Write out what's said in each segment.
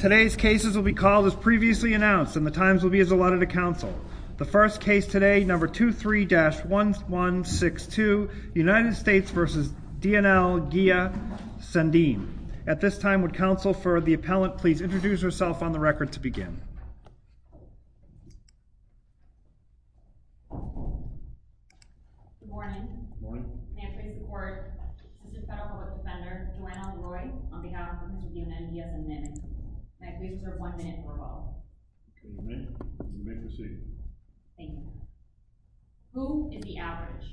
Today's cases will be called as previously announced, and the times will be as allotted to counsel. The first case today, number 23-1162, United States v. D.N.L., Guia-Sendeme. At this time, would counsel for the appellant please introduce herself on the record to Good morning. Good morning. May I please report, Mr. Federal Court Defender, Delano Deloy, on behalf of the County of D.N.N., Guia-Sendeme. May I please reserve one minute for a vote? You may. You may proceed. Thank you. Who is the average?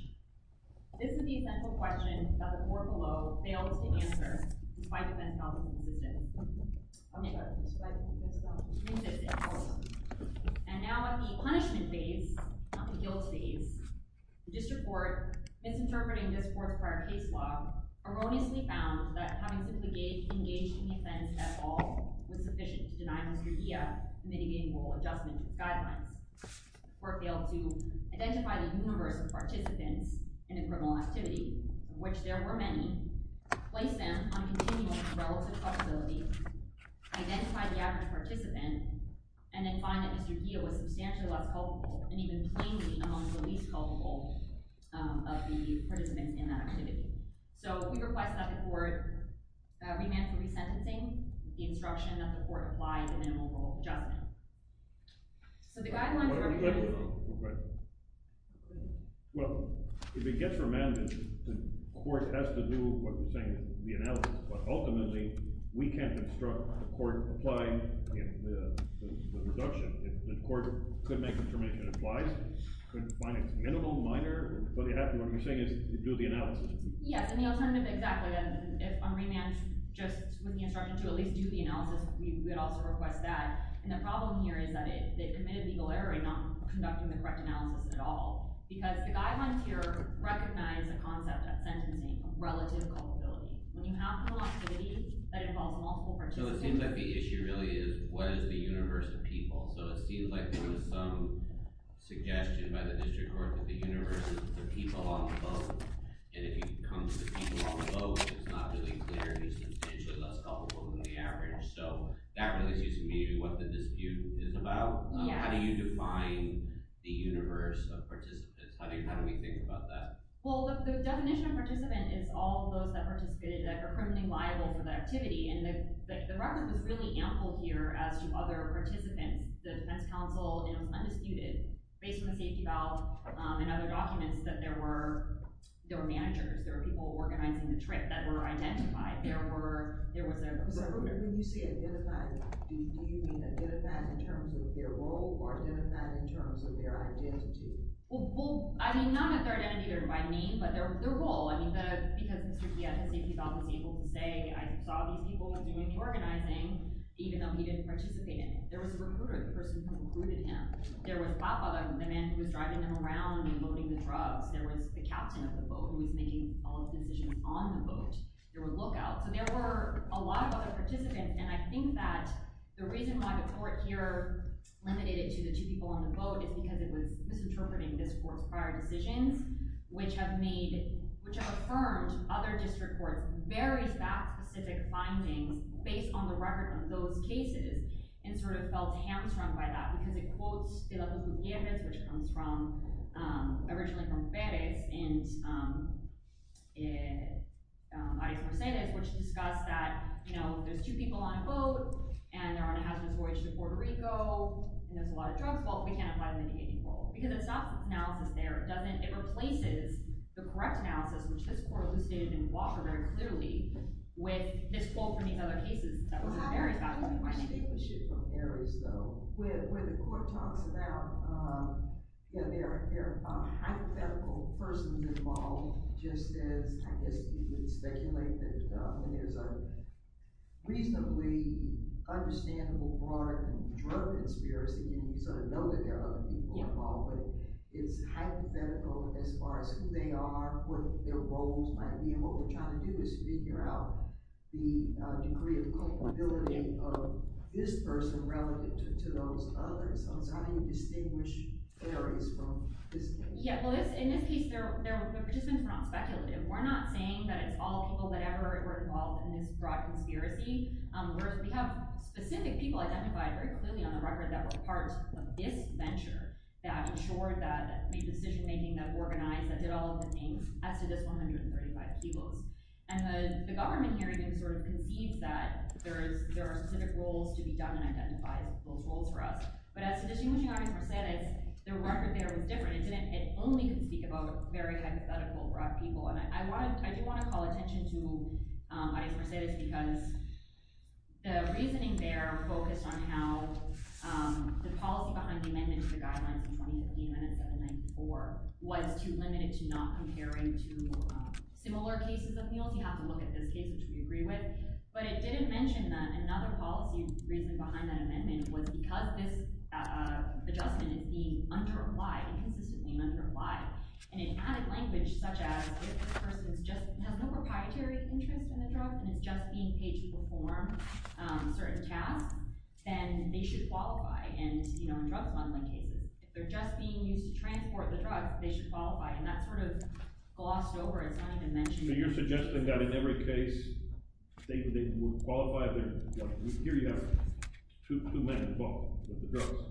This is the essential question that the court below failed to answer despite the defense not being consistent. And now at the punishment phase, not the guilt phase, the district court misinterpreted Misinterpreting this fourth prior case law, erroneously found that having simply engaged in the offense at all was sufficient to deny Mr. Guia mitigating moral adjustment to the The court failed to identify the universe of participants in a criminal activity, of which there were many, place them on continuous relative flexibility, identify the average participant, and then find that Mr. Guia was substantially less culpable and even plainly among the least culpable of the participants in that activity. So we request that the court remand for resentencing the instruction that the court apply the minimal moral adjustment. Well, if it gets remanded, the court has to do what you're saying, the analysis. But ultimately, we can't instruct the court to apply the reduction. If the court could make the determination it applies, could find it minimal, minor, what you have to do is do the analysis. Yes, and the alternative, exactly. If on remand, just with the instruction to at least do the analysis, we would also request that. And the problem here is that they committed legal error in not conducting the correct analysis at all. Because the guidelines here recognize the concept of sentencing relative culpability. When you have a criminal activity that involves multiple participants. So it seems like the issue really is, what is the universe of people? So it seems like there was some suggestion by the district court that the universe is the people on the boat. And if you come to the people on the boat, it's not really clear who's substantially less culpable than the average. So that really seems to be what the dispute is about. How do you define the universe of participants? How do we think about that? Well, the definition of participant is all those that are criminally liable for that activity. And the record was really ample here as to other participants. The defense counsel undisputed, based on the safety valve and other documents, that there were managers. There were people organizing the trip that were identified. There was a group there. So when you say identified, do you mean identified in terms of their role or identified in terms of their identity? Well, I mean, not in terms of their identity by name, but their role. I mean, because the safety valve was able to say, I saw these people organizing, even though he didn't participate in it. There was a recruiter, the person who included him. There was Papa, the man who was driving them around and loading the drugs. There was the captain of the boat who was making all of the decisions on the boat. There were lookouts. So there were a lot of other participants. And I think that the reason why the court here limited it to the two people on the boat is because it was misinterpreting this court's prior decisions, which have made, which have affirmed other district courts' very specific findings based on the record of those cases and sort of felt hamstrung by that. Because it quotes de la Cruz Gutierrez, which comes from, originally from Perez, and Arias Mercedes, which discuss that, you know, there's two people on a boat, and they're on a hazardous voyage to Puerto Rico, and there's a lot of drugs. Well, we can't apply them in the 84. Because it's not the analysis there. It doesn't, it replaces the correct analysis, which this court elucidated in Walker very clearly, with this quote from these other cases that was in Arias. I have a question. I wish it was from Arias, though. Where the court talks about, you know, they're a hypothetical person involved, just as I guess you would speculate that when there's a reasonably understandable drug conspiracy and you sort of know that there are other people involved, but it's hypothetical as far as who they are, what their roles might be, and what we're trying to do is figure out the degree of culpability of this person relative to those others. So how do you distinguish areas from this case? Yeah, well, in this case, the participants were not speculative. We're not saying that it's all people that ever were involved in this drug conspiracy. We have specific people identified very clearly on the record that were part of this venture that ensured that, that made decision-making, that organized, that did all of the things as to this 135 kilos. And the government here even sort of concedes that there are specific roles to be done and identifies those roles for us. But as to distinguishing Arias Mercedes, the record there was different. It only could speak about very hypothetical drug people. I do want to call attention to Arias Mercedes because the reasoning there focused on how the policy behind the amendment to the guidelines in 2015 and 1794 was too limited to not comparing to similar cases of meals. You have to look at this case, which we agree with. But it didn't mention that another policy reason behind that amendment was because this adjustment is being underapplied, inconsistently underapplied. And in added language such as, if this person just has no proprietary interest in the drug and is just being paid to perform certain tasks, then they should qualify. And, you know, in drug smuggling cases, if they're just being used to transport the drug, they should qualify. And that's sort of glossed over. It's not even mentioned. So you're suggesting that in every case, they were qualified. Here you have two men involved with the drugs.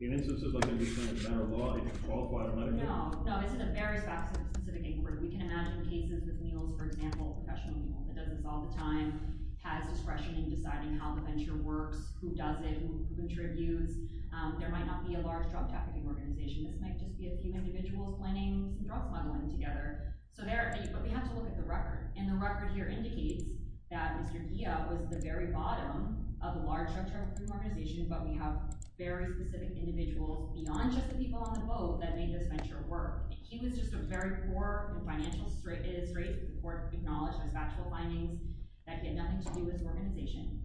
In instances like in the case of federal law, they should qualify. I don't know. No, no. It's in a very specific inquiry. We can imagine cases with meals, for example, a professional meal that does this all the time, has discretion in deciding how the venture works, who does it, who contributes. There might not be a large drug trafficking organization. This might just be a few individuals planning drug smuggling together. But we have to look at the record. And the record here indicates that Mr. Kia was at the very bottom of a large drug trafficking organization. But we have very specific individuals beyond just the people on the boat that made this venture work. He was just a very poor financial, straight, straight report acknowledged by factual findings that had nothing to do with the organization.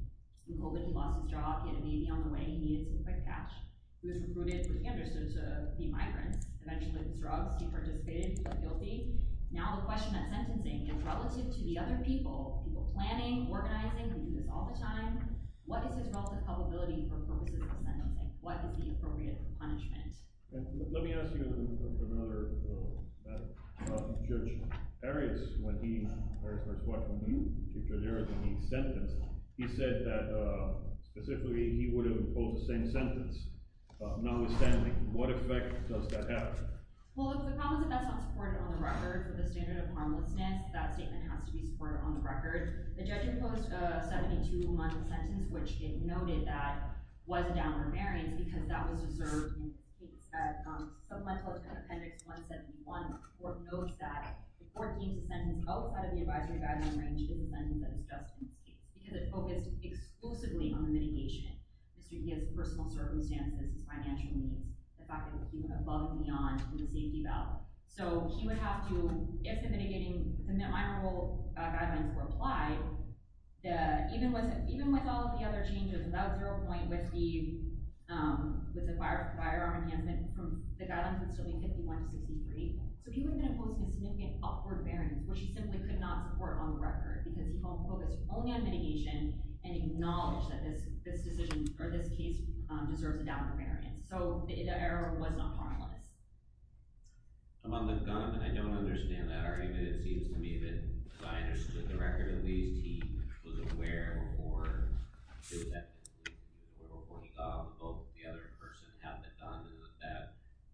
With COVID, he lost his job. He had a baby on the way. He needed some quick cash. He was recruited, which he understood, to be migrants, eventually with drugs. He participated. He pled guilty. Now the question at sentencing is relative to the other people, people planning, organizing. We do this all the time. What is his relative probability for purposes of the sentencing? What would be appropriate for punishment? Let me ask you another question about Judge Arias. When he, or his first wife, when he, Judge Arias, when he sentenced, he said that specifically he would have imposed the same sentence. Notwithstanding, what effect does that have? Well, the problem is that that's not supported on the record. The standard of harmlessness, that statement has to be supported on the record. The judge imposed a 72-month sentence, which it noted that was a downer of Arias because that was deserved. It's a supplemental to Appendix 171. The court notes that the court deemed the sentence out of the advisory guideline range to be the sentence that was justified because it focused exclusively on the mitigation. His personal circumstances, his financial needs, the fact that he went above and beyond the safety valve. He would have to, if the mitigating, if the minimal guidelines were applied, even with all of the other changes, without zero point, with the firearm enhancement, the guidelines would still be 51-63. He would have been imposing a significant upward variance, which he simply could not support on the record because he focused only on mitigation and acknowledged that this decision, or this case, deserves a downward variance. The error was not harmless. I'm on the gun, and I don't understand that argument. It seems to me that, as I understood the record, at least he was aware, or did that before he thought, before the other person had the gun, that that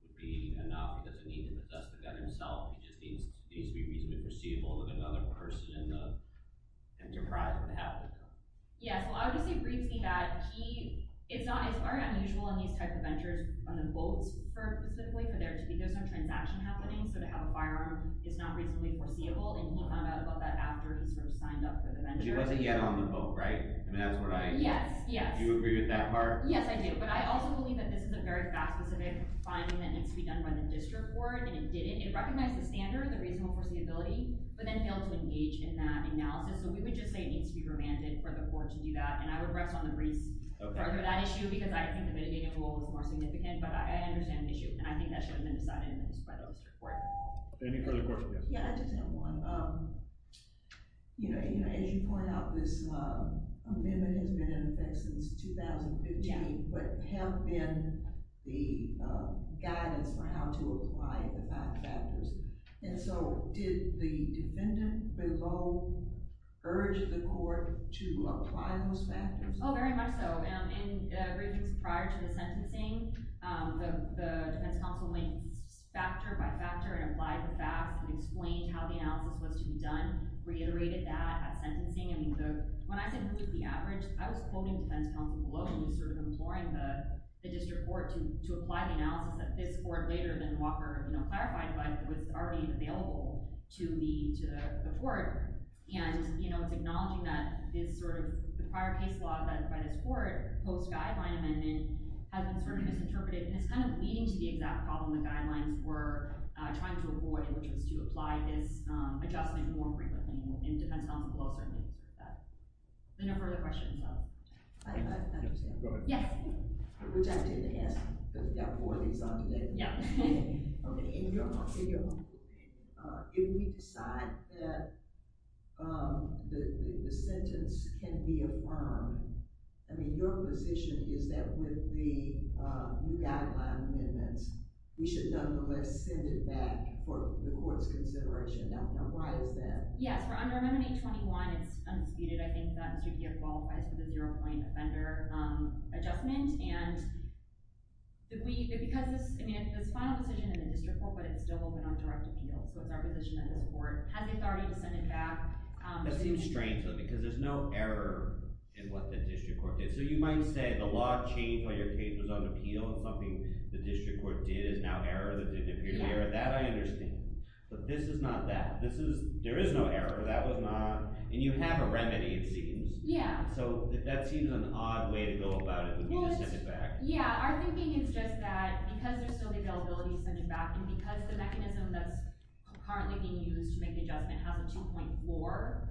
would be enough. He doesn't need to possess the gun himself. It just needs to be reasonably perceivable that another person in the enterprise would have the gun. Yeah, so I would just say briefly that he, it's not, it's very unusual in these type of cases where there are ventures on the votes for, specifically, for there to be, there's no transaction happening, so to have a firearm is not reasonably foreseeable, and he found out about that after he sort of signed up for the venture. It wasn't yet on the vote, right? I mean, that's what I. Yes, yes. Do you agree with that part? Yes, I do, but I also believe that this is a very fact-specific finding that needs to be done by the district court, and it didn't. It recognized the standard, the reasonable foreseeability, but then failed to engage in that analysis, so we would just say it needs to be remanded for the court to do that, and I would rest on the briefs for that issue, because I couldn't have made it any more significant, but I understand the issue, and I think that should have been decided by the district court. Any further questions? Yeah, I just have one. You know, as you point out, this amendment has been in effect since 2015, but have been the guidance for how to apply the five factors, and so did the defendant below urge the court to apply those factors? Oh, very much so. In briefings prior to the sentencing, the defense counsel went factor by factor and applied the facts and explained how the analysis was to be done, reiterated that at sentencing. I mean, when I said it was the average, I was quoting defense counsel below, and he was sort of imploring the district court to apply the analysis that this court later, then Walker clarified, was already available to the court, and, you know, it's acknowledging that this sort of prior case law that is by this court, post-guideline amendment, has been sort of misinterpreted, and it's kind of leading to the exact problem the guidelines were trying to avoid, which was to apply this adjustment more frequently, and the defense counsel below certainly did that. Are there no further questions? I understand. Go ahead. Yes. Which I didn't ask, but got four of these on today. Yeah. Okay. In your mind, in your mind, if we decide that the sentence can be affirmed, I mean, your position is that with the new guideline amendments, we should nonetheless send it back for the court's consideration. Now, why is that? Yes. For under Amendment 821, it's undisputed, I think, that Mr. Giff qualifies for the zero It's a final decision in the district court, but it's still open on direct appeal, so it's our position that the court has the authority to send it back. That seems strange to me, because there's no error in what the district court did. So you might say the law changed while your case was on appeal, and something the district court did is now error that didn't appear to be error. That I understand. But this is not that. This is, there is no error. That was not, and you have a remedy, it seems. Yeah. So that seems an odd way to go about it, would be to send it back. Yeah, our thinking is just that because there's still the availability to send it back, and because the mechanism that's currently being used to make the adjustment has a 2.4,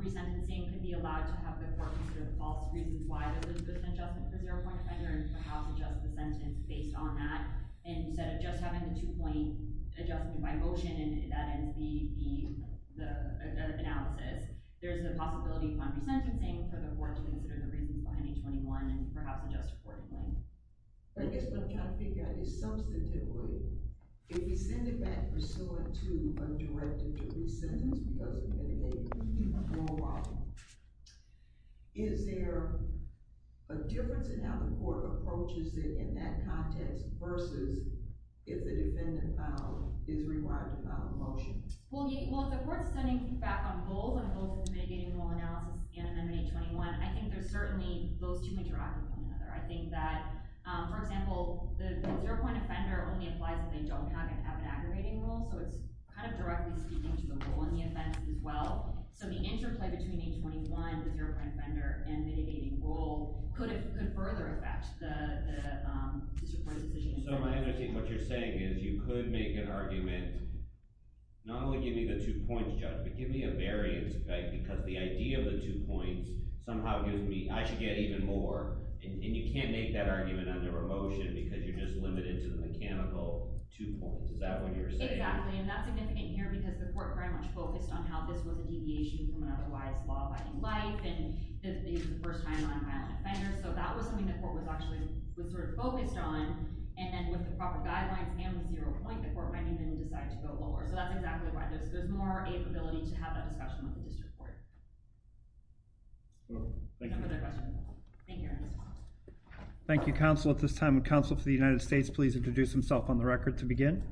resentencing can be allowed to have the court consider the false reasons why there was an adjustment for zero point offender and perhaps adjust the sentence based on that, instead of just having the two-point adjustment by motion, and that ends the analysis. There's a possibility upon resentencing for the court to consider the reasons behind 821 and perhaps adjust accordingly. I guess what I'm trying to figure out is, substantively, if we send it back pursuant to a directed-to-relief sentence because of mitigating the formal law, is there a difference in how the court approaches it in that context versus if the defendant is rewired to file a motion? Well, if the court's sending it back on both, on both the mitigating rule analysis and 821, I think there's certainly those two interacting with one another. I think that, for example, the zero point offender only applies if they don't have an aggravating rule, so it's kind of directly speaking to the rule in the offense as well. So the interplay between 821, the zero point offender, and mitigating rule could further affect the disreported decision. So my understanding of what you're saying is you could make an argument not only giving me the two points, Judge, but giving me a variance because the idea of the two points somehow gives me, I should get even more, and you can't make that argument under a motion because you're just limited to the mechanical two points. Is that what you're saying? Exactly, and that's significant here because the court very much focused on how this was a deviation from an otherwise law-abiding life and this is the first time on a violent offender, so that was something the court was actually sort of focused on, and then with the proper guidelines and the zero point, the court might even decide to go lower. So that's exactly why there's more ability to have that discussion with the district court. Thank you. No further questions. Thank you, Your Honor. Thank you, counsel. At this time, would counsel for the United States please introduce himself on the record to begin?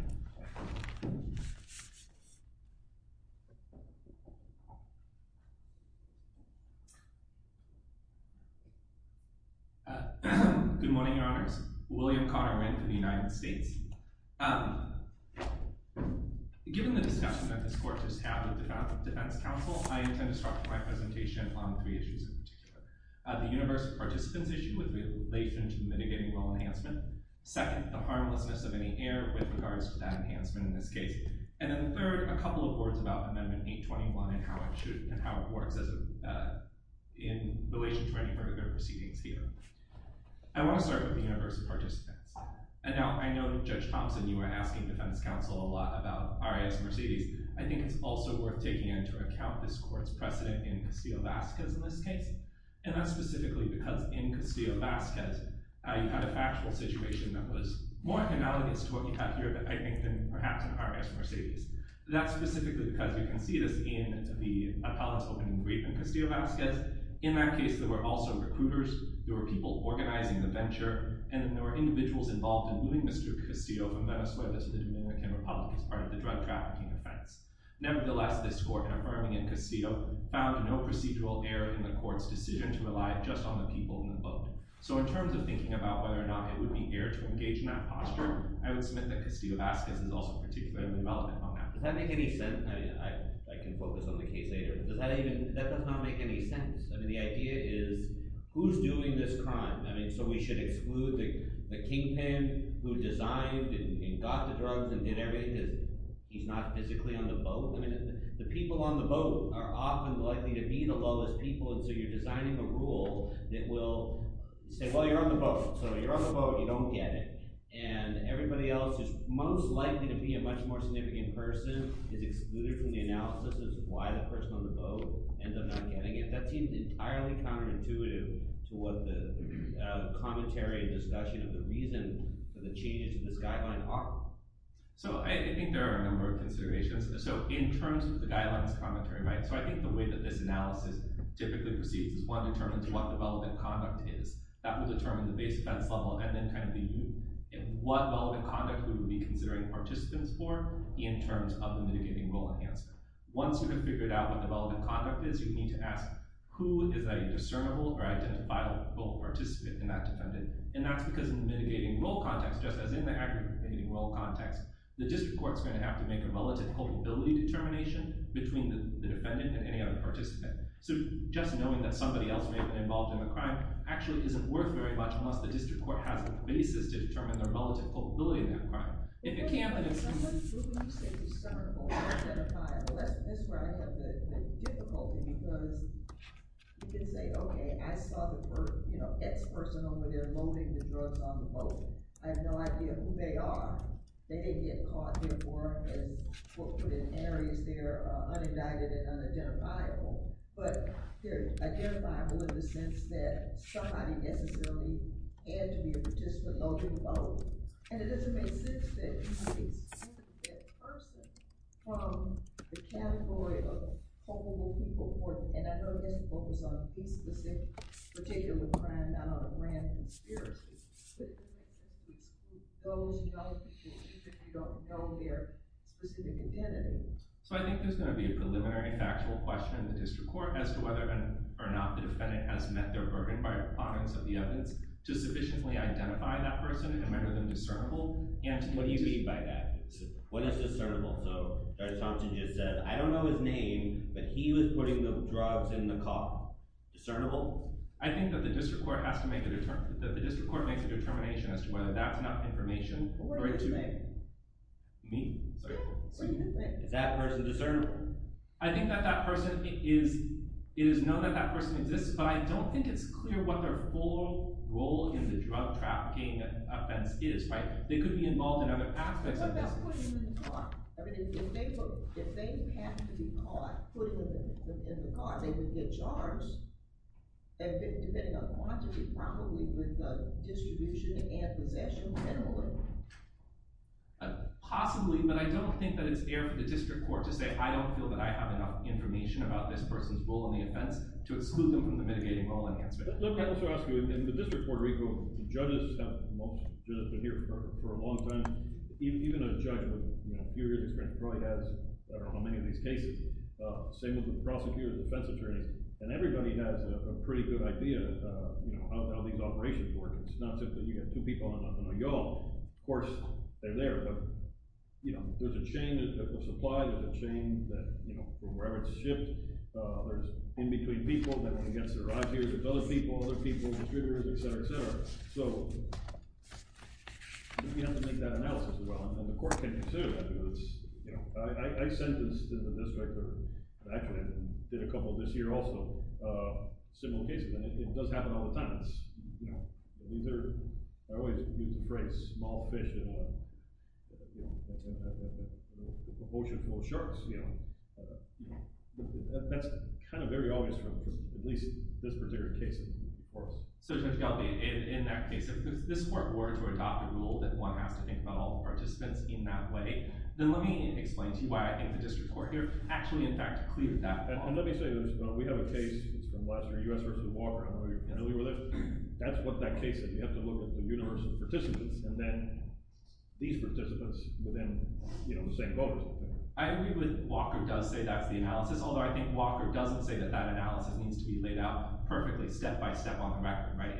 Good morning, Your Honors. William Conner Mink of the United States. Given the discussion that this court just had with the defense counsel, I intend to start my presentation on three issues in particular. The universal participants issue with relation to mitigating law enhancement, second, the harmlessness of any error with regards to that enhancement in this case, and then third, a couple of words about Amendment 821 and how it works in relation to any further proceedings here. I want to start with the universal participants. Now, I know Judge Thompson, you were asking defense counsel a lot about R.I.S. Mercedes. I think it's also worth taking into account this court's precedent in Castillo-Vasquez in this case, and that's specifically because in Castillo-Vasquez, you had a factual situation that was more analogous to what we have here, I think, than perhaps in R.I.S. Mercedes. That's specifically because you can see this in the appellate's open brief in Castillo-Vasquez. In that case, there were also recruiters, there were people organizing the venture, and there were individuals involved in moving Mr. Castillo from Venezuela to the Dominican Republic as part of the drug trafficking offense. Nevertheless, this court affirming in Castillo found no procedural error in the court's decision to rely just on the people involved. So in terms of thinking about whether or not it would be error to engage in that posture, I would submit that Castillo-Vasquez is also particularly relevant on that. Does that make any sense? I mean, I can focus on the case later. Does that even—that does not make any sense. I mean, the idea is, who's doing this crime? I mean, so we should exclude the kingpin who designed and got the drugs and did everything because he's not physically on the boat? I mean, the people on the boat are often likely to be the lowest people, and so you're designing a rule that will say, well, you're on the boat. So you're on the boat, you don't get it. And everybody else who's most likely to be a much more significant person is excluded from the analysis as to why the person on the boat ends up not getting it. That seems entirely counterintuitive to what the commentary and discussion of the reason for the changes in this guideline are. So I think there are a number of considerations. So in terms of the guideline's commentary, right, so I think the way that this analysis typically proceeds is one determines what the relevant conduct is. That would determine the base offense level and then kind of the—what relevant conduct we would be considering participants for in terms of the mitigating role enhancement. Once you have figured out what the relevant conduct is, you need to ask who is a discernible or identifiable role participant in that defendant. And that's because in the mitigating role context, just as in the aggravating role context, the district court's going to have to make a relative culpability determination between the defendant and any other participant. So just knowing that somebody else may have been involved in a crime actually isn't worth very much unless the district court has a basis to determine their relative culpability in that crime. If it can't, then it's— But what do you mean you say discernible or identifiable? That's where I have the difficulty because you can say, okay, I saw the first, you know, ex-person over there loading the drugs on the boat. I have no idea who they are. They didn't get caught. Therefore, in areas, they're unindicted and unidentifiable. But they're identifiable in the sense that somebody necessarily had to be a participant loading the boat. And it doesn't make sense that you can separate that person from the category of culpable people. And I know it has to focus on a specific particular crime, not on a grand conspiracy. It goes without saying that you don't know their specific identities. So I think there's going to be a preliminary factual question in the district court as to whether or not the defendant has met their bourbon-fired opponents of the evidence to sufficiently identify that person and render them discernible. And— What do you mean by that? What is discernible? So Judge Thompson just said, I don't know his name, but he was putting the drugs in the car. Discernible? I think that the district court has to make a—that the district court makes a determination as to whether that's enough information for it to— What word did you make? Me? Yeah. What do you think? Is that person discernible? I think that that person is—it is known that that person exists, but I don't think it's clear what their full role in the drug trafficking offense is, right? They could be involved in other aspects of this. What about putting them in the car? I mean, if they happen to be caught putting them in the car, they would get charged. And depending on the quantity, probably with the distribution and possession, generally. Possibly, but I don't think that it's fair for the district court to say, I don't feel that I have enough information about this person's role in the offense, to exclude them from the mitigating role enhancement. Let me also ask you, in the District Court of Reco, the judges have—most judges have been here for a long time. Even a judge with, you know, a few years experience probably has, I don't know how many of these cases. Same with the prosecutors, defense attorneys. And everybody has a pretty good idea, you know, how these operations work. It's not that you get two people and I'm not going to know you all. Of course, they're there. But, you know, there's a chain of supply. There's a chain that, you know, from wherever it's shipped, there's in-between people that are against their ideas. There's other people, other people, distributors, et cetera, et cetera. So, you have to make that analysis as well. And the court can consider that. I mean, it's, you know, I sentenced in the district, or actually did a couple this year also, a similar case. And it does happen all the time. You know, these are, I always use the phrase, small fish in a, you know, ocean full of sharks. You know, that's kind of very obvious from at least this particular case, of course. So Judge Galbi, in that case, if this court were to adopt a rule that one has to think about all participants in that way, then let me explain to you why I think the district court here actually, in fact, cleared that law. And let me say this. We have a case that's been last year, U.S. versus Walker, and we were there. That's what that case is. You have to look at the universe of participants, and then these participants within, you know, the same voters. I agree with Walker does say that's the analysis, although I think Walker doesn't say that that analysis needs to be laid out perfectly step-by-step on the record, right?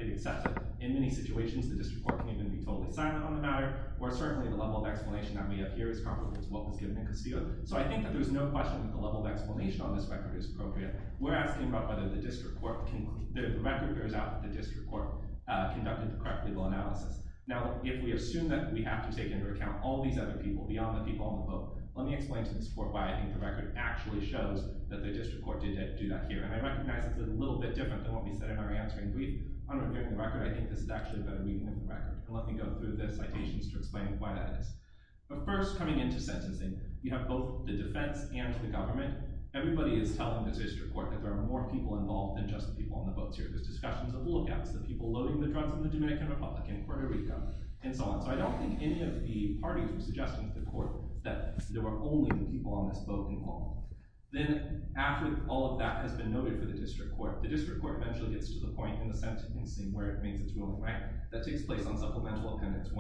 In many situations, the district court can even be totally silent on the matter, or certainly the level of explanation that we have here is comparable to what was given in Castillo. So I think that there's no question that the level of explanation on this record is appropriate. We're asking about whether the record bears out that the district court conducted the correct legal analysis. Now, if we assume that we have to take into account all these other people beyond the people on the vote, let me explain to this court why I think the record actually shows that the district court did do that here. And I recognize it's a little bit different than what we said in our answering brief. On a given record, I think this is actually a better reading than the record. And let me go through the citations to explain why that is. But first, coming into sentencing, you have both the defense and the government. Everybody is telling the district court that there are more people involved than just the people on the votes here. There's discussions of hooligans, the people loading the drugs in the Dominican Republic, in Puerto Rico, and so on. So I don't think any of the parties were suggesting to the court that there were only people on this vote involved. Then, after all of that has been noted for the district court, the district court eventually gets to the point in the sentencing where it makes its ruling, right? That takes place on Supplemental Appendix 145.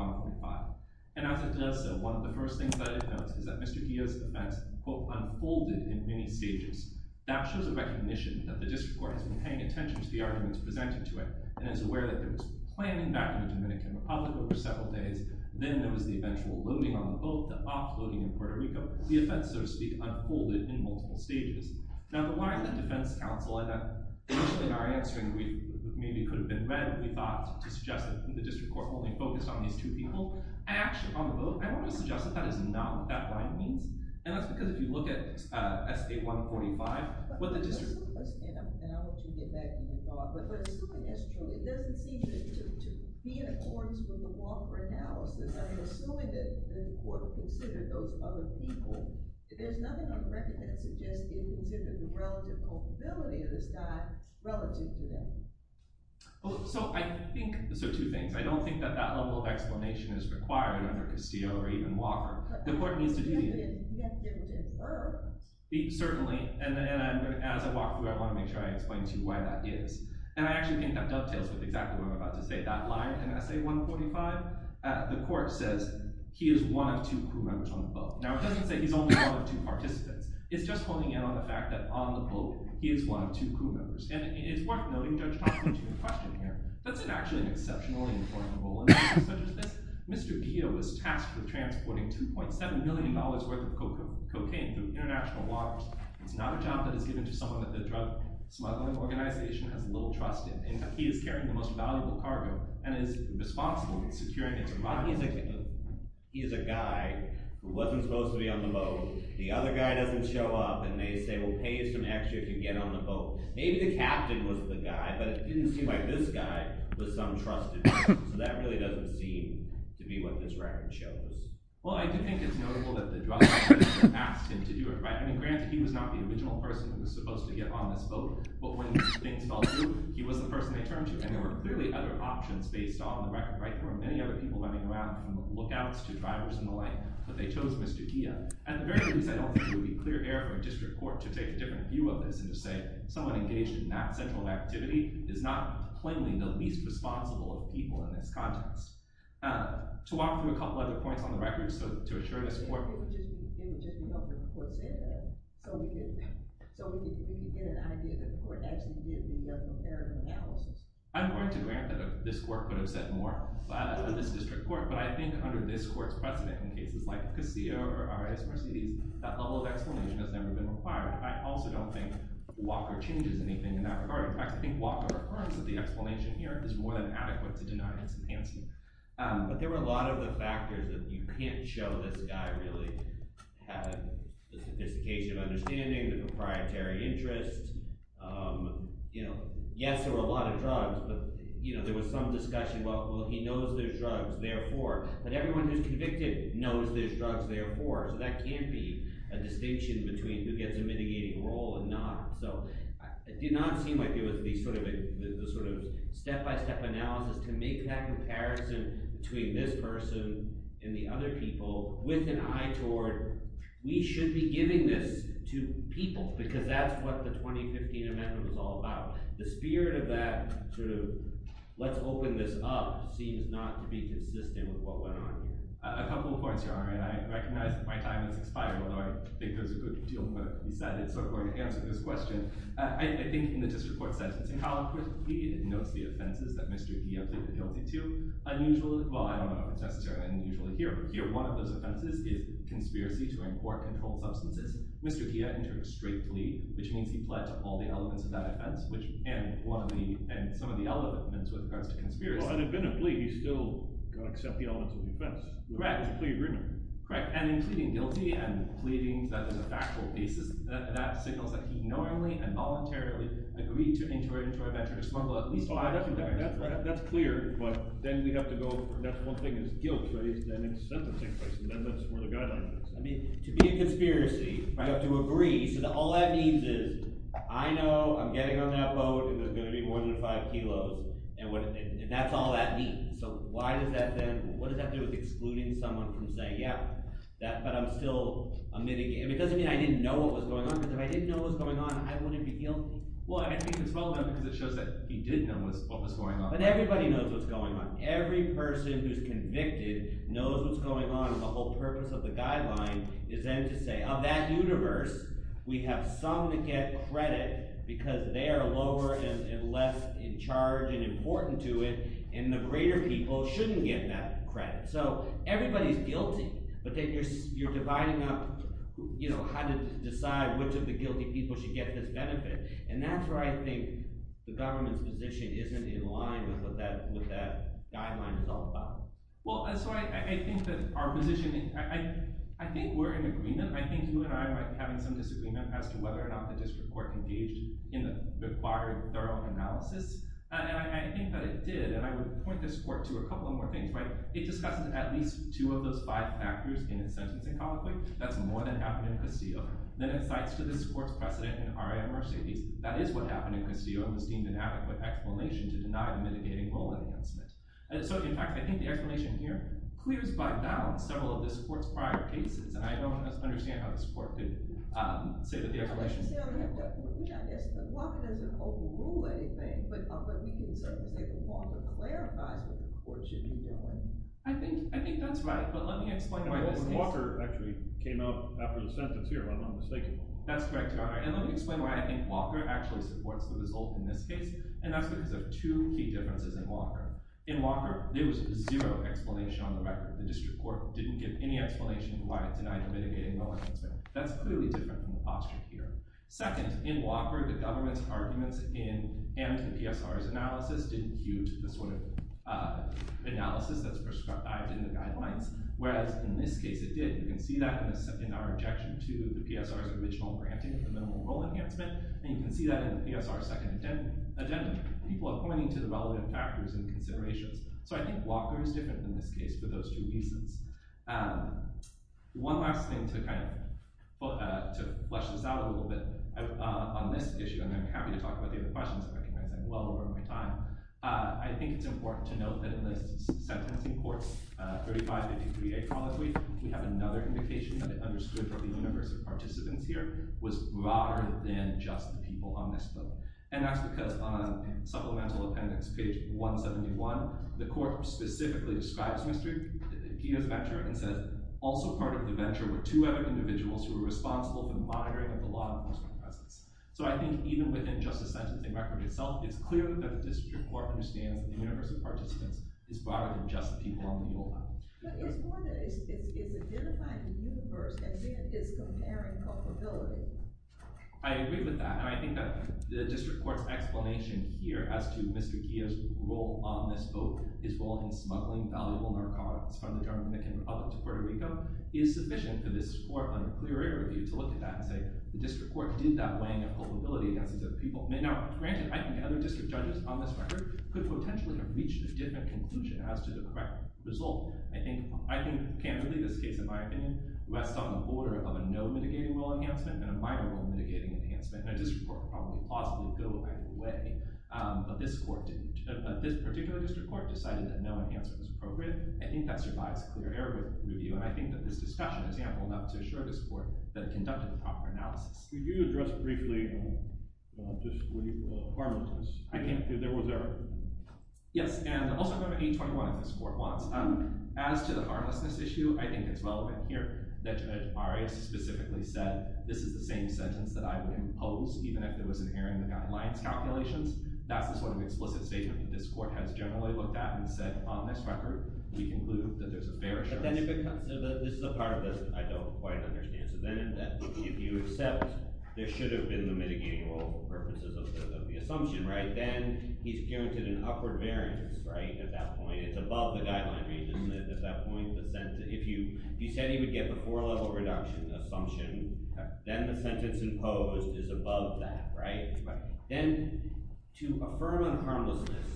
And as it does so, one of the first things that it notes is that Mr. Guillo's defense quote, unfolded in many stages. That shows a recognition that the district court has been paying attention to the arguments presented to it, and is aware that there was planning back in the Dominican Republic over several days. Then there was the eventual loading on the vote, the offloading in Puerto Rico. The offense, so to speak, unfolded in multiple stages. Now, the line that defense counsel, in our answering brief, maybe could have been read we thought to suggest that the district court only focused on these two people. Actually, on the vote, I don't want to suggest that that is not what that line means. And that's because if you look at S.A. 145, what the district court... I understand, and I'll let you get back to your thought. But assuming that's true, it doesn't seem to be in accordance with the law for analysis. I mean, assuming that the court considered those other people, there's nothing on record that suggests it considered the relative culpability of this guy relative to them. Well, so I think... So, two things. I don't think that that level of explanation is required under Castillo or even Walker. The court needs to do the... He has to be able to infer. Certainly. And then, as I walk through, I want to make sure I explain to you why that is. And I actually think that dovetails with exactly what I'm about to say. That line in S.A. 145, the court says, he is one of two crew members on the boat. Now, it doesn't say he's only one of two participants. It's just honing in on the fact that on the boat, he is one of two crew members. And it's worth noting, Judge Thompson, to your question here, that's actually an exceptionally important rule. In cases such as this, Mr. Pio is tasked with transporting $2.7 million worth of cocaine through international waters. It's not a job that is given to someone that the drug smuggling organization has little trust in. In fact, he is carrying the most valuable cargo and is responsible for securing its arrival. He is a guy who wasn't supposed to be on the boat. The other guy doesn't show up, and they say, well, pay us an extra if you get on the boat. Maybe the captain was the guy, but it didn't seem like this guy was some trusted person. So that really doesn't seem to be what this record shows. Well, I do think it's notable that the drug smuggling organization asked him to do it, right? I mean, granted, he was not the original person who was supposed to get on this boat. But when things fell through, he was the person they turned to. And there were clearly other options based on the record, right? There were many other people running around, from lookouts to drivers and the like. But they chose Mr. Pio. At the very least, I don't think it would be clear error for a district court to take a different view of this and to say someone engaged in that type of activity is not plainly the least responsible of people in this context. To walk through a couple other points on the record, so to assure this court— It would just be helpful if the court said that, so we could get an idea that the court actually did the comparative analysis. I'm going to grant that this court could have said more about this district court, but I think under this court's precedent in cases like Casillo or R.I.S. Mercedes, that level of explanation has never been required. I also don't think Walker changes anything in that regard. In fact, I think Walker affirms that the explanation here is more than adequate to deny Henson-Hanson. But there were a lot of the factors that you can't show this guy really had. The sophistication of understanding, the proprietary interest. Yes, there were a lot of drugs, but there was some discussion, well, he knows there's drugs, therefore. But everyone who's convicted knows there's drugs, therefore. So that can be a distinction between who gets a mitigating role and not. So it did not seem like it was the sort of step-by-step analysis to make that comparison between this person and the other people with an eye toward, we should be giving this to people because that's what the 2015 amendment was all about. The spirit of that sort of, let's open this up, seems not to be consistent with what went on here. A couple of points here. I recognize that my time has expired, although I think there's a good deal that can be said. It's sort of going to answer this question. I think in the district court sentencing column, of course, he notes the offenses that Mr. Kia pleaded guilty to. Unusually, well, I don't know if it's necessarily unusual here. Here, one of those offenses is conspiracy to import controlled substances. Mr. Kia entered a straight plea, which means he pled to all the elements of that offense and some of the elements with regards to conspiracy. Well, it had been a plea. He still got to accept the elements of the offense. Correct. It was a plea agreement. Correct. And in pleading guilty and pleading that there's a factual basis, that signals that he normally and voluntarily agreed to enter into a venture to smuggle at least five… That's clear, but then we have to go, that's one thing is guilt-based, then it's sentencing-based, and then that's where the guideline is. I mean, to be a conspiracy, you have to agree, so all that means is I know I'm getting on that boat and there's going to be more than five kilos, and that's all that means. So why does that then – what does that do with excluding someone from saying, yeah, but I'm still a mitigator? It doesn't mean I didn't know what was going on, because if I didn't know what was going on, I wouldn't be guilty. Well, I think it's well done because it shows that he did know what was going on. But everybody knows what's going on. Every person who's convicted knows what's going on, and the whole purpose of the guideline is then to say, of that universe, we have some that get credit because they are lower and less in charge and important to it, and the greater people shouldn't get that credit. So everybody's guilty, but then you're dividing up how to decide which of the guilty people should get this benefit, and that's where I think the government's position isn't in line with what that guideline is all about. Well, so I think that our position – I think we're in agreement. I think you and I might be having some disagreement as to whether or not the district court engaged in the required thorough analysis. And I think that it did, and I would point this court to a couple of more things. It discusses at least two of those five factors in its sentencing conflict. That's more than happened in Castillo. Then it cites to this court's precedent in R.I.M. Mercedes. That is what happened in Castillo, and was deemed an adequate explanation to deny the mitigating role enhancement. So in fact, I think the explanation here clears by balance several of this court's prior cases, and I don't understand how this court could say that the explanation… Walker doesn't overrule anything, but he can certainly say that Walker clarifies what the court should be doing. I think that's right, but let me explain why this case… Walker actually came out after the sentence here, if I'm not mistaken. That's correct, Your Honor. And let me explain why I think Walker actually supports the result in this case, and that's because of two key differences in Walker. In Walker, there was zero explanation on the record. The district court didn't give any explanation why it denied the mitigating role enhancement. That's clearly different from the posture here. Second, in Walker, the government's arguments in… and the PSR's analysis didn't queue to the sort of analysis that's prescribed in the guidelines, whereas in this case it did. You can see that in our objection to the PSR's original granting of the minimal role enhancement, and you can see that in the PSR's agenda. People are pointing to the relevant factors and considerations. So I think Walker is different in this case for those two reasons. One last thing to flesh this out a little bit on this issue, and I'm happy to talk about the other questions if I can, as I'm well over my time. I think it's important to note that in this sentencing court, 3553A, we have another indication that it understood that the universe of participants here was broader than just the people on this floor. And that's because on Supplemental Appendix page 171, the court specifically describes Peter's venture and says, also part of the venture were two other individuals who were responsible for the monitoring of the law enforcement presence. So I think even within just the sentencing record itself, it's clear that the district court understands that the universe of participants is broader than just the people on the old floor. But it's more than that. It's identifying the universe and then it's comparing comparability. I agree with that. And I think that the district court's explanation here as to Mr. Guillo's role on this vote, his role in smuggling valuable narcotics from the Dominican Republic to Puerto Rico, is sufficient for this court on a clear-air review to look at that and say, the district court did that weighing of culpability against these other people. Now, granted, I think other district judges on this record could potentially have reached a different conclusion as to the correct result. I think, I think, candidly, this case, in my opinion, rests on the border of a no-mitigating rule enhancement and a minor rule-mitigating enhancement. And a district court could possibly go either way. But this court, this particular district court decided that no enhancement was appropriate. I think that survives a clear-air review. And I think that this discussion is ample enough to assure this court that it conducted the proper analysis. Could you address briefly just harmlessness? I can. If there was ever. Yes. And I'll also go to 821 if this court wants. As to the harmlessness issue, I think it's relevant here that the RA specifically said this is the same sentence that I would impose even if it was adhering to the Guidelines calculations. That's the sort of explicit statement that this court has generally looked at and said, on this record, we conclude that there's a fair assurance. But then if it comes to the, this is the part of this I don't quite understand. So then if you accept there should have been the mitigating rule for purposes of the assumption, right? Then he's guaranteed an upward variance, right? At that point, it's above the Guideline ranges. At that point, if you said he would get the four-level reduction assumption then the sentence imposed is above that, right? Then, to affirm on harmlessness,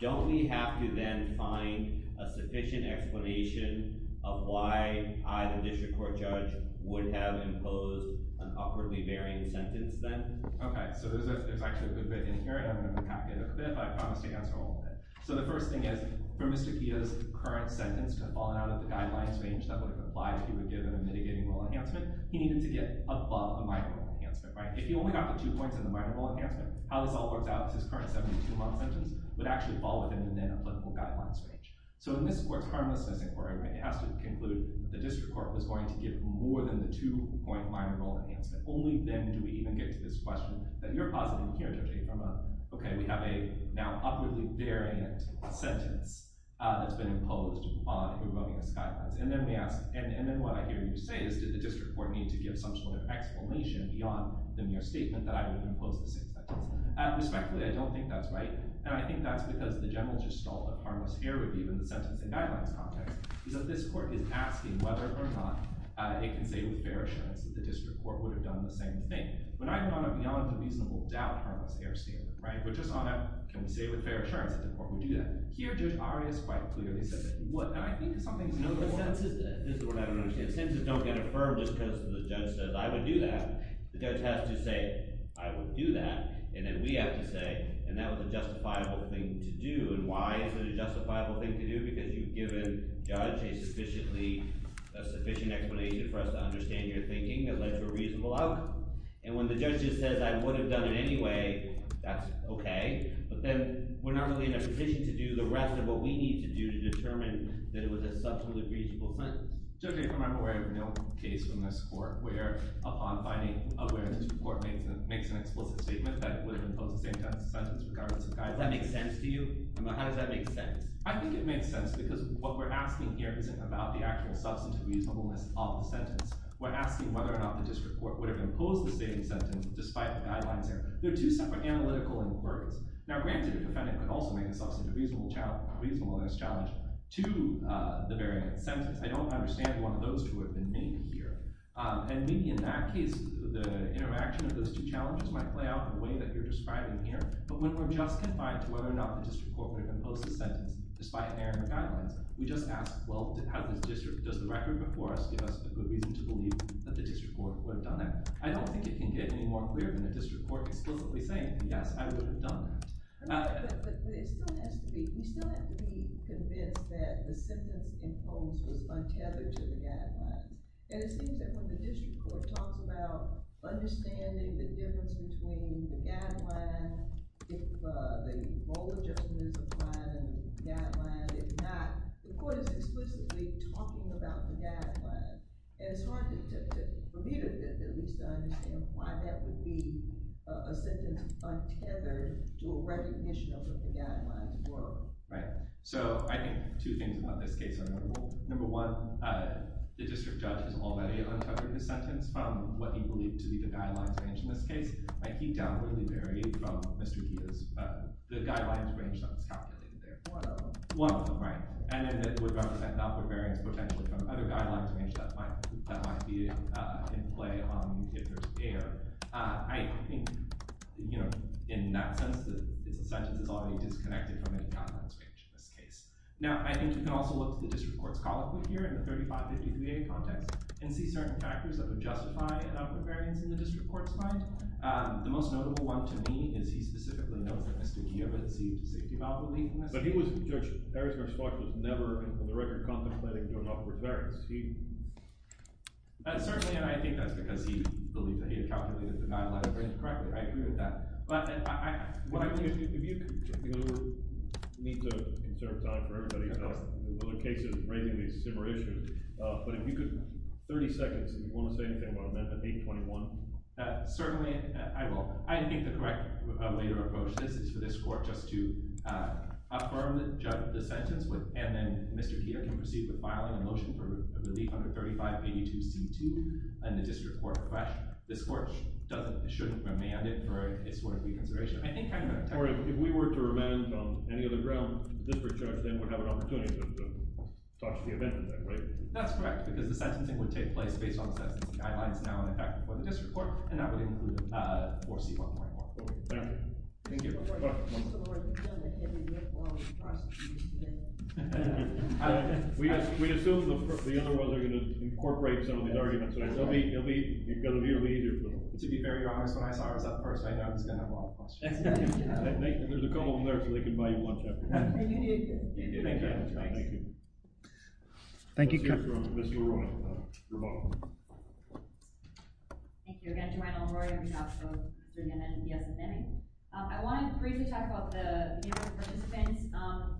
don't we have to then find a sufficient explanation of why I, the District Court Judge, would have imposed an upwardly varying sentence then? Okay, so there's actually a good bit in here and I'm going to pack it a bit but I promise to answer all of it. So the first thing is, for Mr. Keough's current sentence to have fallen out of the Guidelines range that would have applied if he were given a mitigating rule enhancement, he needed to get above the minor rule enhancement, right? If he only got the two points in the minor rule enhancement, how this all works out is his current 72-month sentence would actually fall within the Nana Political Guidelines range. So in this Court's Harmlessness Inquiry it has to conclude the District Court was going to give more than the two-point minor rule enhancement. Only then do we even get to this question that you're positive, Keough, judging from a, okay, we have a now upwardly variant sentence that's been imposed on eroding his Guidelines and then we ask, and then what I hear you say is did the District Court need to give some sort of explanation beyond the mere statement that I would have imposed the same sentence? Respectfully, I don't think that's right and I think that's because the general gestalt of Harmless Error Review in the Sentencing Guidelines context is that this Court is asking whether or not it can say with fair assurance that the District Court would have done the same thing. When I put on a beyond a reasonable doubt Harmless Error Statement, right? We're just on a can we say with fair assurance that the Court would do that? Here, Judge Arias quite clearly said that. I think something's wrong. No, the sentences this is what I don't understand the sentences don't get affirmed just because the judge says I would do that the judge has to say I would do that and then we have to say and that was a justifiable thing to do and why is it a justifiable thing to do? Because you've given the judge a sufficiently a sufficient explanation for us to understand your thinking and that's a reasonable outcome and when the judge just says I would have done it anyway that's okay but then we're not really in a position to do the rest of what we need to do to determine that it was a substantively reasonable sentence Judge, I'm aware of no case from this Court where upon finding awareness the Court makes an explicit statement that it would have imposed the same sentence regardless of guidelines Does that make sense to you? How does that make sense? I think it makes sense because what we're asking here isn't about the actual substantive reasonableness of the sentence we're asking whether or not the District Court would have imposed the same sentence despite the guidelines there they're two separate analytical words now granted the defendant could also make a substantive reasonableness challenge to the variant sentence I don't understand one of those two that have been made here and maybe in that case the interaction of those two challenges might play out in the way that you're describing here but when we're just confined to whether or not the District Court would have imposed the sentence despite inherent guidelines we just ask does the record before us give us a good reason to believe that the District Court would have done that I don't think it can get any more clear than the District Court explicitly saying yes I would have done that but it still has to be we still have to be convinced that the sentence imposed was untethered to the guidelines and it seems that when the District Court talks about understanding the difference between the guideline if the role of justice is applied in the guideline if not the court is explicitly talking about the guideline and it's hard for me to at least understand why that would be a sentence untethered to a recognition of what the guidelines were right so I think two things about this case are notable number one the District Judge has already untethered his sentence from what he believed to be the guidelines range in this case like he downwardly varied from Mr. Diaz the guidelines range that was calculated there one of them one of them right and then it would represent outward variance potentially from other guidelines range that might be in play if there's error I think you know in that sense that it's a sentence that's already disconnected from the guidelines range in this case now I think you can also look to the District Court's call output here in the 35-53a context and see certain factors that would justify an outward variance in the District Court's find the most notable one to me is he specifically knows that Mr. Kiyoba had received a safety valve relief in this case but he was Judge Eriksberg's thought was never on the record for contemplating doing outward variance he certainly and I think that's because he believed that he had calculated the guideline range correctly I agree with that if you need to conserve time for everybody in other cases raising these similar issues but if you could 30 seconds if you want to say anything about amendment 821 certainly I will I think the correct later approach is for this Court just to affirm the sentence and then Mr. Kiyoba can proceed with filing a motion for relief under 3582C2 and the District Court request this Court shouldn't remand it for a sort of reconsideration I think if we were to remand on any other ground the District Court then would have an opportunity to touch the event in that way that's correct because the sentencing would take place based on the sentencing guidelines now in effect for the District Court and that would include 4C1.14 Thank you Thank you Mr. Lord, if you don't agree with all of the prosecutions today we assume the other world are going to incorporate some of these arguments it will be easier to be very honest when I saw it was up first I knew I was going to have a lot of questions there's a column there so they can buy you lunch afterwards thank you Thank you Mr. Arroyo you're welcome Thank you again Jermaine Arroyo on behalf of Jermaine and DSMN I want to briefly talk about the number of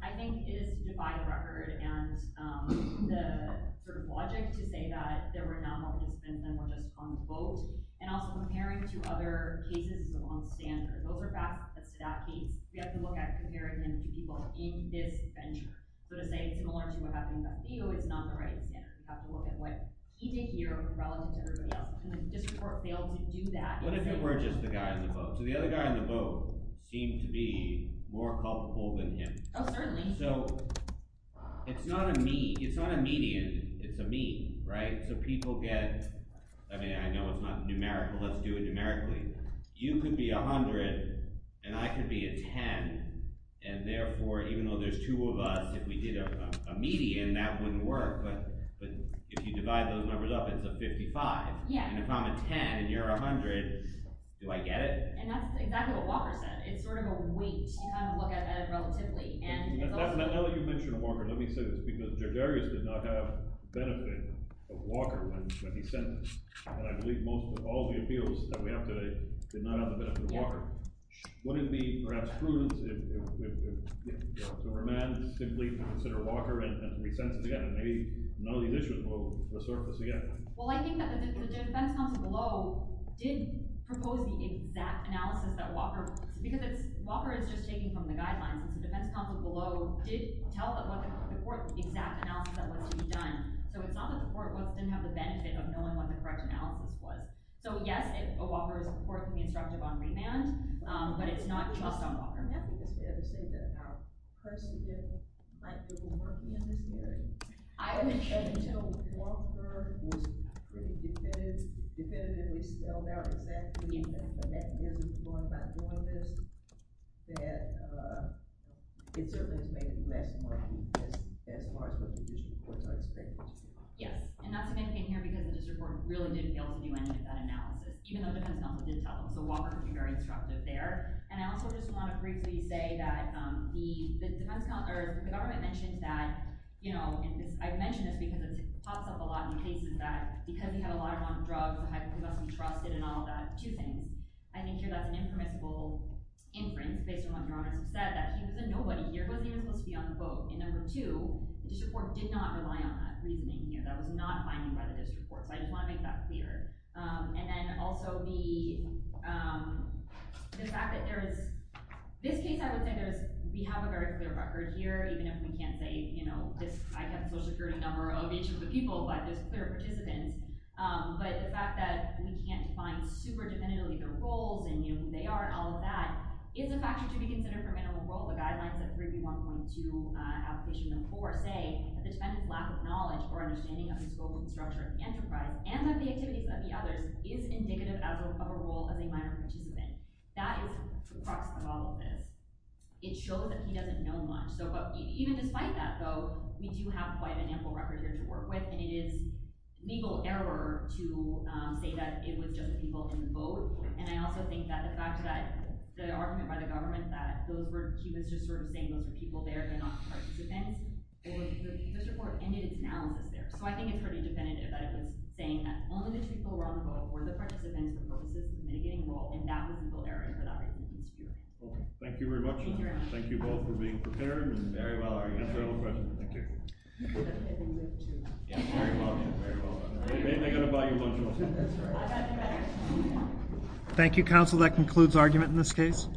I think it is to defy the record and the sort of logic to say that there were not more participants than were just on the vote and also comparing to other cases on standard those are facts but to that case we have to look at comparing them to people in this venture so to say similar to what happened with Leo is not the right standard we have to look at what he did here relative to everybody else and the district failed to do that what if it were just the guy on the vote so the other guy on the vote seemed to be more helpful than him oh certainly so it's not a median it's a mean right so people get I mean I know it's not numerical let's do it numerically you could be a hundred and I could be a ten and therefore even though there's two of us if we did a median that wouldn't work but if you divide those numbers up it's a fifty five and if I'm a ten and you're a hundred do I get it and that's exactly what Walker said it's sort of a weight you kind of look at it relatively now that you mention Walker let me say this because Judge Arias did not have the benefit of Walker when he sent and I believe most of all the appeals that we have today did not have the benefit of Walker wouldn't it be perhaps prudent for a man to simply consider Walker and resend it again and maybe none of these issues will resurface again well I think that the defense counsel below did propose the exact analysis that Walker because it's Walker is just taking from the guidelines and the defense counsel below did tell the court the exact analysis that was to be done so it's not that the court didn't have the benefit of knowing what the correct analysis was so yes Walker is reportedly instructive on remand but it's not just Walker it's fair to say that our precedent might be working in this area until Walker was pretty definitive definitively spelled out exactly the mechanism going by doing this that it certainly has made it less important as far as what the judicial courts are expecting yes and that's the main thing here because the district court really did fail to do any of that analysis even though the defense counsel did tell them so Walker can be very instructive there and I also just want to briefly say that the government mentioned that you know I mention this because it pops up a lot in cases that because we have a lot of drugs we must be trusted and all of that two things I think here that's an impermissible inference based on what your honor said that he was a nobody he wasn't even supposed to be on the boat and number two the district court did not rely on that reasoning here that was not defined by the district court so I just want to make that clear and then also the the fact that there is this case I would say we have a very clear record here even if we can't say you know I have a social security number of each of the people but there's clear participants but the fact that we can't define super definitively their roles and who they are and all of that it's a factor to be considered for men on the boat so the guidelines of 3B1.2 application number 4 say that the defendant's lack of knowledge or understanding of the scope and structure of the enterprise and the activities of the others is indicative of a role of a minor participant that is the crux of all of this it shows that he doesn't know much so even despite that though we do have quite an ample record here and it is legal error to say that it was just the people on the boat and I also think that the fact that the argument by the government that he was just sort of saying those were people there and not so I think it's pretty definitive that it was saying that only those people were on the boat were the participants for purposes of mitigating the role and that I'm referring to yeah very well they're gonna buy your boat that's right thank you counsel that concludes argument in this case